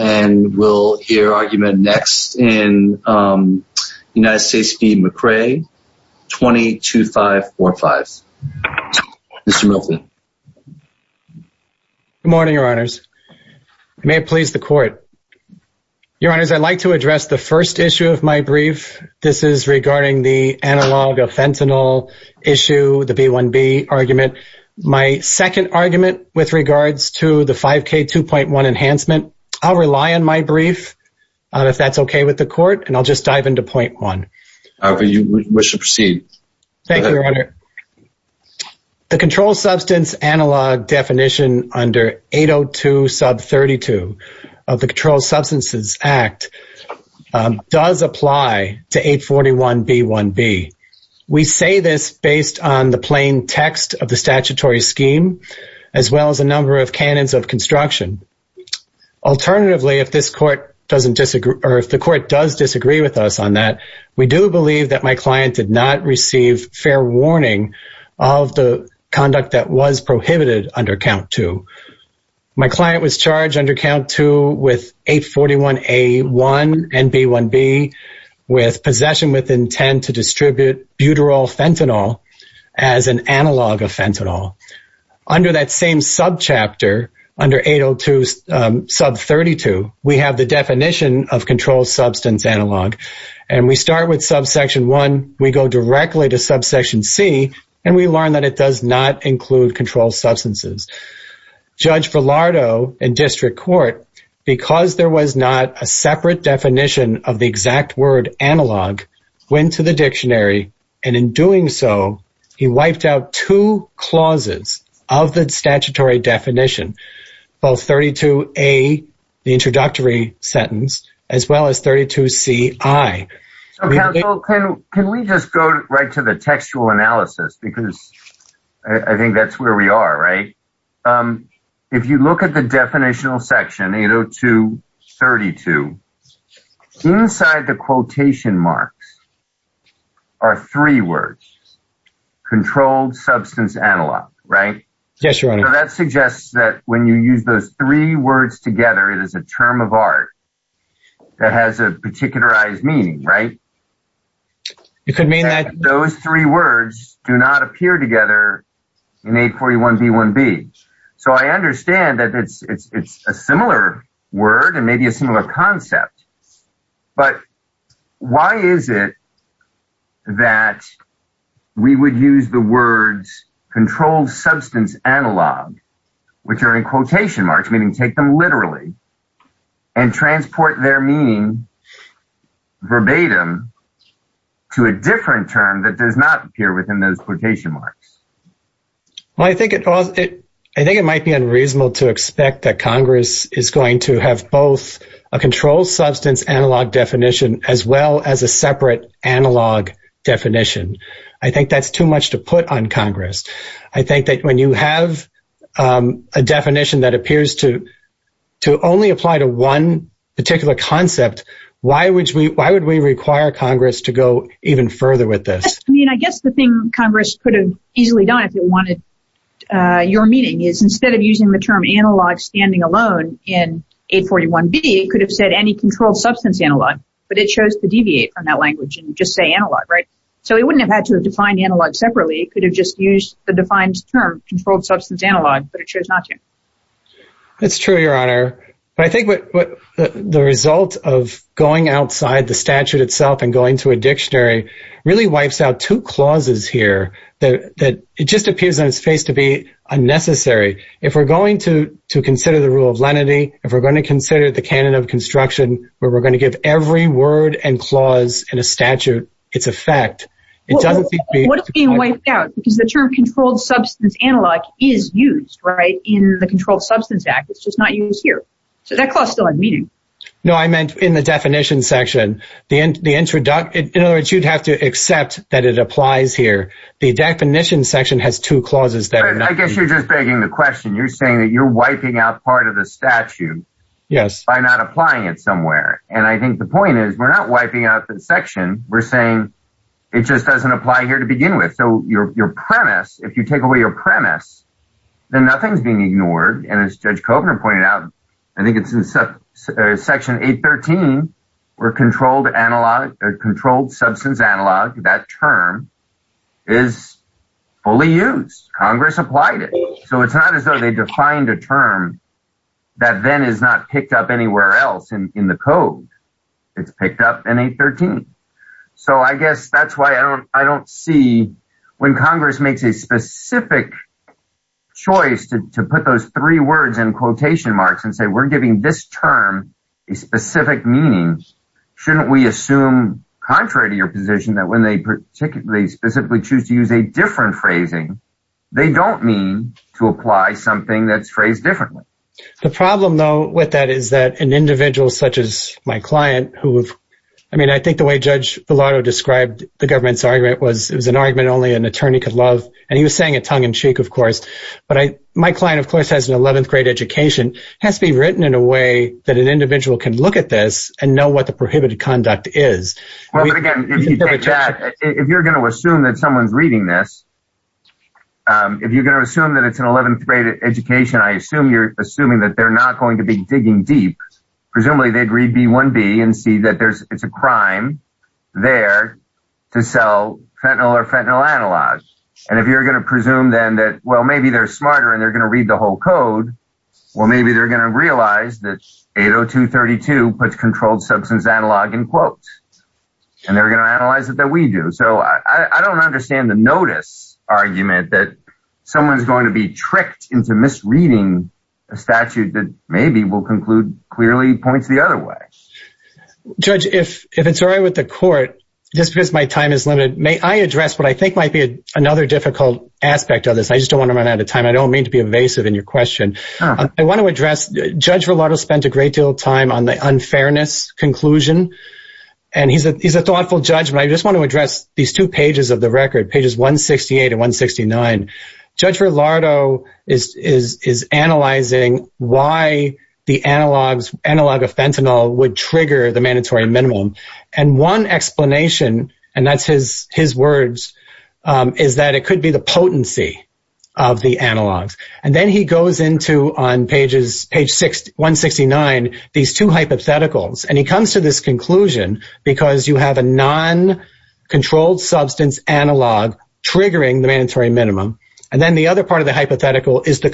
and we'll hear argument next in United States v. McCray, 20-2545. Mr. Milton. Good morning, your honors. May it please the court. Your honors, I'd like to address the first issue of my brief. This is regarding the analog of fentanyl issue, the B1B argument. My second argument with regards to the 5k 2.1 enhancement, I'll rely on my brief if that's okay with the court and I'll just dive into point one. We shall proceed. Thank you, your honor. The controlled substance analog definition under 802 sub 32 of the controlled substances act does apply to 841 B1B. We say this based on the plain text of the statutory scheme as well as a number of canons of construction. Alternatively, if the court does disagree with us on that, we do believe that my client did not receive fair warning of the conduct that was prohibited under count two. My client was charged under count two with 841 A1 and B1B with possession with intent to distribute butyrol fentanyl as an analog of fentanyl. Under that same subchapter, under 802 sub 32, we have the definition of controlled substance analog and we start with subsection one, we go directly to subsection C and we learn that it does not include controlled substances. Judge Villardo and district court, because there was not a word analog, went to the dictionary and in doing so, he wiped out two clauses of the statutory definition, both 32A, the introductory sentence, as well as 32CI. So counsel, can we just go right to the textual analysis because I think that's where we are, right? If you look at the definitional section 802 32, inside the quotation marks are three words, controlled substance analog, right? Yes, your honor. That suggests that when you use those three words together, it is a term of art that has a particularized meaning, right? It could mean that those three words do not appear together in 841B1B. So I understand that it's a similar word and maybe a similar concept, but why is it that we would use the words controlled substance analog, which are in quotation marks, meaning take them literally and transport their meaning verbatim to a different term that does not appear within those quotation marks? Well, I think it might be unreasonable to expect that Congress is going to have both a controlled substance analog definition as well as a separate analog definition. I think that's too much to put on Congress. I think that when you have a definition that appears to only apply to one particular concept, why would we require Congress to go even further with this? I mean, I guess the thing Congress could have easily done if you wanted your meeting is instead of using the term analog standing alone in 841B, it could have said any controlled substance analog, but it chose to deviate from that language and just say analog, right? So it wouldn't have had to define analog separately. It could have just used the defined term controlled substance analog, but it chose not to. That's true, your honor. But I think the result of going outside the statute itself and going to a dictionary really wipes out two clauses here that it just appears on its face to be unnecessary. If we're going to consider the rule of lenity, if we're going to consider the canon of construction where we're going to give every word and clause in a statute its effect, it doesn't seem to be... What is being wiped out? Because the term controlled substance analog is used, right, in the Controlled Substance Act. It's just not used here. So that clause is still in the meeting. No, I meant in the definition section. In other words, you'd have to accept that it applies here. The definition section has two clauses that... I guess you're just begging the question. You're saying that you're wiping out part of the statute by not applying it somewhere. And I think the point is we're not wiping out the section. We're saying it just doesn't apply here to begin with. So your premise, if you take away your premise, then nothing's being ignored. And as Judge Kovner pointed out, I think it's in section 813 where controlled analog or controlled substance analog, that term, is fully used. Congress applied it. So it's not as though they defined a term that then is not picked up anywhere else in the code. It's picked up in 813. So I guess that's why I don't see when Congress makes a specific choice to put those three words in quotation marks and say, we're giving this term a specific meaning. Shouldn't we assume, contrary to your position, that when they specifically choose to use a different phrasing, they don't mean to apply something that's phrased differently? The problem, though, with that is that an individual such as my client who... I mean, I think the way Judge Vellato described the argument only an attorney could love, and he was saying it tongue-in-cheek, of course, but my client, of course, has an 11th grade education, has to be written in a way that an individual can look at this and know what the prohibited conduct is. Well, but again, if you take that, if you're going to assume that someone's reading this, if you're going to assume that it's an 11th grade education, I assume you're assuming that they're not going to be digging deep. Presumably they'd read B1B and see that it's a crime there to sell fentanyl or fentanyl analog. And if you're going to presume then that, well, maybe they're smarter and they're going to read the whole code, well, maybe they're going to realize that 80232 puts controlled substance analog in quotes, and they're going to analyze it that we do. So I don't understand the notice argument that someone's going to be tricked into misreading a statute that maybe will conclude clearly points the other way. Judge, if it's all right with the court, just because my time is limited, may I address what I think might be another difficult aspect of this? I just don't want to run out of time. I don't mean to be evasive in your question. I want to address, Judge Rilardo spent a great deal of time on the unfairness conclusion, and he's a thoughtful judge, but I just want to address these two pages of the record, pages 168 and 169. Judge Rilardo is analyzing why the analog of fentanyl would trigger the mandatory minimum. And one explanation, and that's his words, is that it could be the potency of the analogs. And then he goes into on page 169, these two hypotheticals, and he comes to this conclusion because you have a non-controlled substance analog triggering the mandatory minimum. And then the other part of the hypothetical is the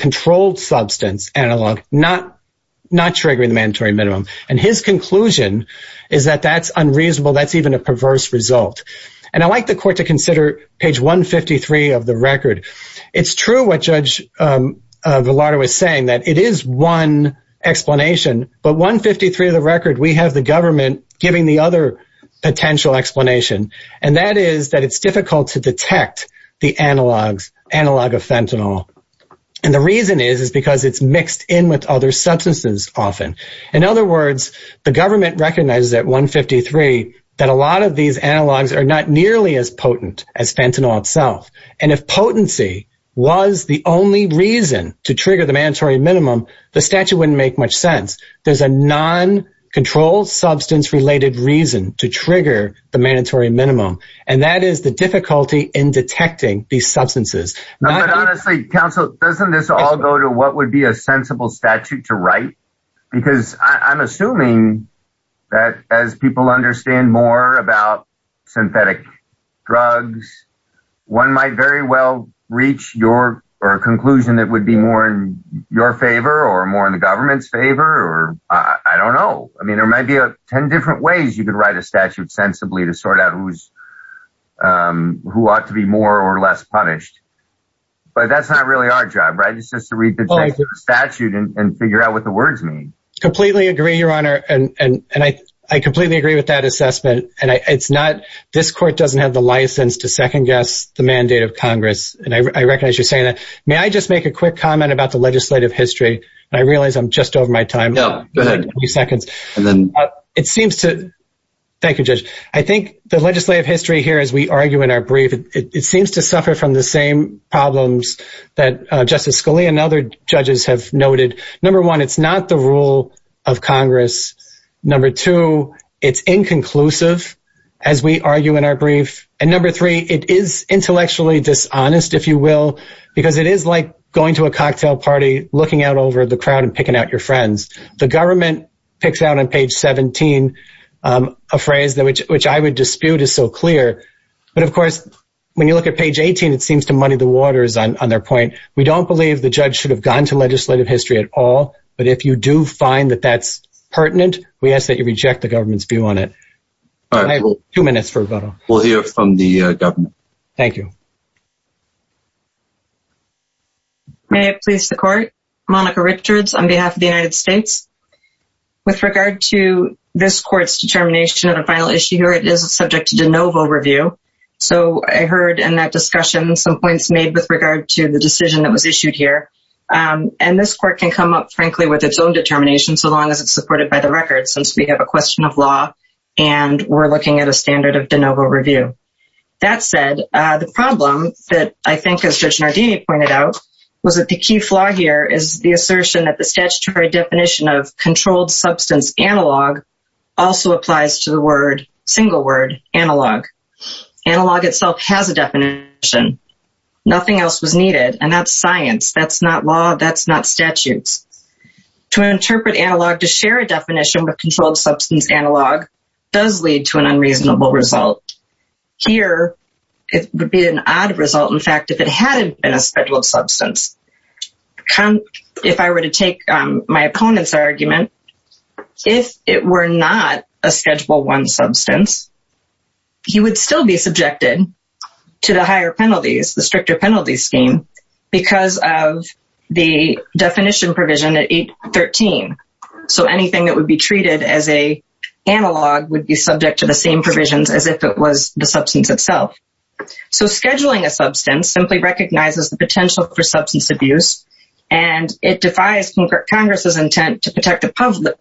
his conclusion is that that's unreasonable, that's even a perverse result. And I like the court to consider page 153 of the record. It's true what Judge Rilardo was saying, that it is one explanation, but 153 of the record, we have the government giving the other potential explanation, and that is that it's difficult to detect the analogs, analog of fentanyl. And the reason is, is because it's mixed in with other substances often. In other words, the government recognizes at 153 that a lot of these analogs are not nearly as potent as fentanyl itself. And if potency was the only reason to trigger the mandatory minimum, the statute wouldn't make much sense. There's a non-controlled substance related reason to trigger the mandatory minimum, and that is the difficulty in detecting these substances. Honestly, counsel, doesn't this all go to what would be a sensible statute to write? Because I'm assuming that as people understand more about synthetic drugs, one might very well reach your conclusion that would be more in your favor or more in the government's favor, or I don't know. I mean, there might be 10 different ways you could write a statute who ought to be more or less punished. But that's not really our job, right? It's just to read the statute and figure out what the words mean. Completely agree, your honor. And I completely agree with that assessment. And it's not, this court doesn't have the license to second guess the mandate of Congress. And I recognize you're saying that. May I just make a quick comment about the legislative history? I realize I'm just over my time. It seems to, thank you, Judge. I think the legislative history here, as we argue in our brief, it seems to suffer from the same problems that Justice Scalia and other judges have noted. Number one, it's not the rule of Congress. Number two, it's inconclusive, as we argue in our brief. And number three, it is intellectually dishonest, if you will, because it is like going to a cocktail party, looking out over the crowd and picking out your friends. The government picks out on page 17, a phrase that which I would dispute is so clear. But of course, when you look at page 18, it seems to muddy the waters on their point. We don't believe the judge should have gone to legislative history at all. But if you do find that that's pertinent, we ask that you reject the government's view on it. Two minutes. We'll hear from the government. Thank you. May it please the court. Monica Richards on behalf of the United States. With regard to this court's determination of a final issue here, it is subject to de novo review. So I heard in that discussion, some points made with regard to the decision that was issued here. And this court can come up, frankly, with its own determination, so long as it's supported by the record, since we have a question of law. And we're looking at a standard of de novo review. That said, the problem that I think as Judge Nardini pointed out, was that the key flaw here is the assertion that the statutory definition of controlled substance analog also applies to the word, single word analog. Analog itself has a definition. Nothing else was needed. And that's science. That's not law. That's not statutes. To interpret analog to share a definition with unreasonable result. Here, it would be an odd result, in fact, if it hadn't been a scheduled substance. If I were to take my opponent's argument, if it were not a schedule one substance, he would still be subjected to the higher penalties, the stricter penalty scheme, because of the definition provision at 813. So anything that would be treated as a provisions as if it was the substance itself. So scheduling a substance simply recognizes the potential for substance abuse. And it defies Congress's intent to protect the public.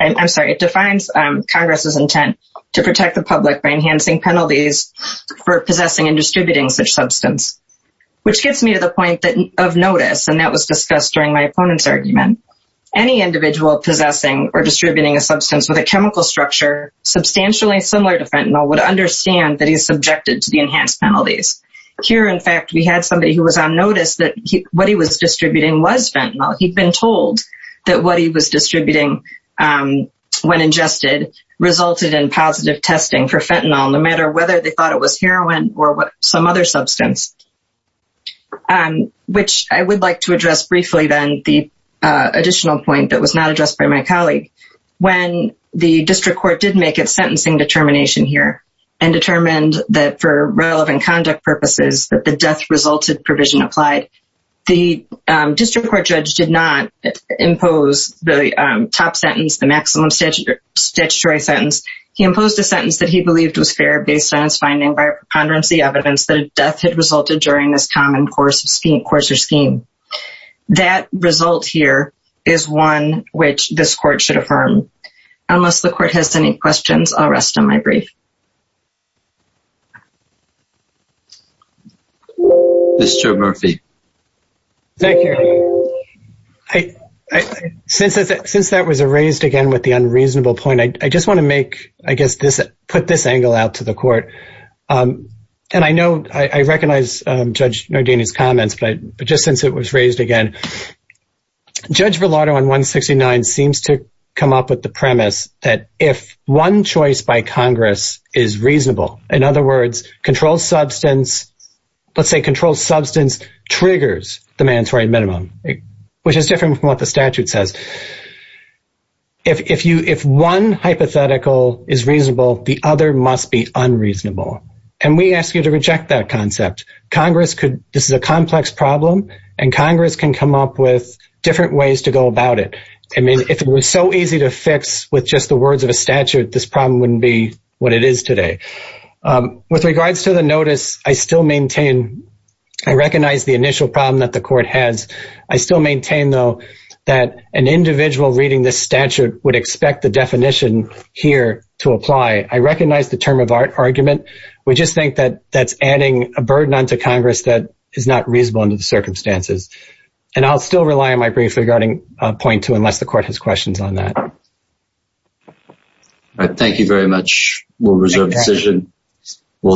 I'm sorry, it defines Congress's intent to protect the public by enhancing penalties for possessing and distributing such substance, which gets me to the point that of notice, and that was discussed during my opponent's argument. Any individual possessing or fentanyl would understand that he's subjected to the enhanced penalties. Here, in fact, we had somebody who was on notice that what he was distributing was fentanyl. He'd been told that what he was distributing, when ingested, resulted in positive testing for fentanyl, no matter whether they thought it was heroin or some other substance. Which I would like to address briefly, then the additional point that was not addressed by my determination here, and determined that for relevant conduct purposes that the death resulted provision applied. The district court judge did not impose the top sentence, the maximum statutory sentence. He imposed a sentence that he believed was fair based on his finding by a preponderancy evidence that a death had resulted during this common course or scheme. That result here is one which this court should affirm. Unless the court has any questions, I'll rest on my brief. Mr. Murphy. Thank you. Since that was raised again with the unreasonable point, I just want to make, I guess, put this angle out to the court. I recognize Judge Nardini's comments, but just since it was raised again, Judge Villardo on 169 seems to come up with the premise that if one choice by Congress is reasonable, in other words, controlled substance, let's say controlled substance triggers the mandatory minimum, which is different from what the statute says. If one hypothetical is reasonable, the other must be unreasonable. We ask you to reject that and Congress can come up with different ways to go about it. I mean, if it was so easy to fix with just the words of a statute, this problem wouldn't be what it is today. With regards to the notice, I still maintain, I recognize the initial problem that the court has. I still maintain, though, that an individual reading this statute would expect the definition here to apply. I recognize the term of art argument. We just think that that's adding a burden onto Congress that is not reasonable under the circumstances. I'll still rely on my brief regarding point two, unless the court has questions on that. Thank you very much. We'll reserve the decision.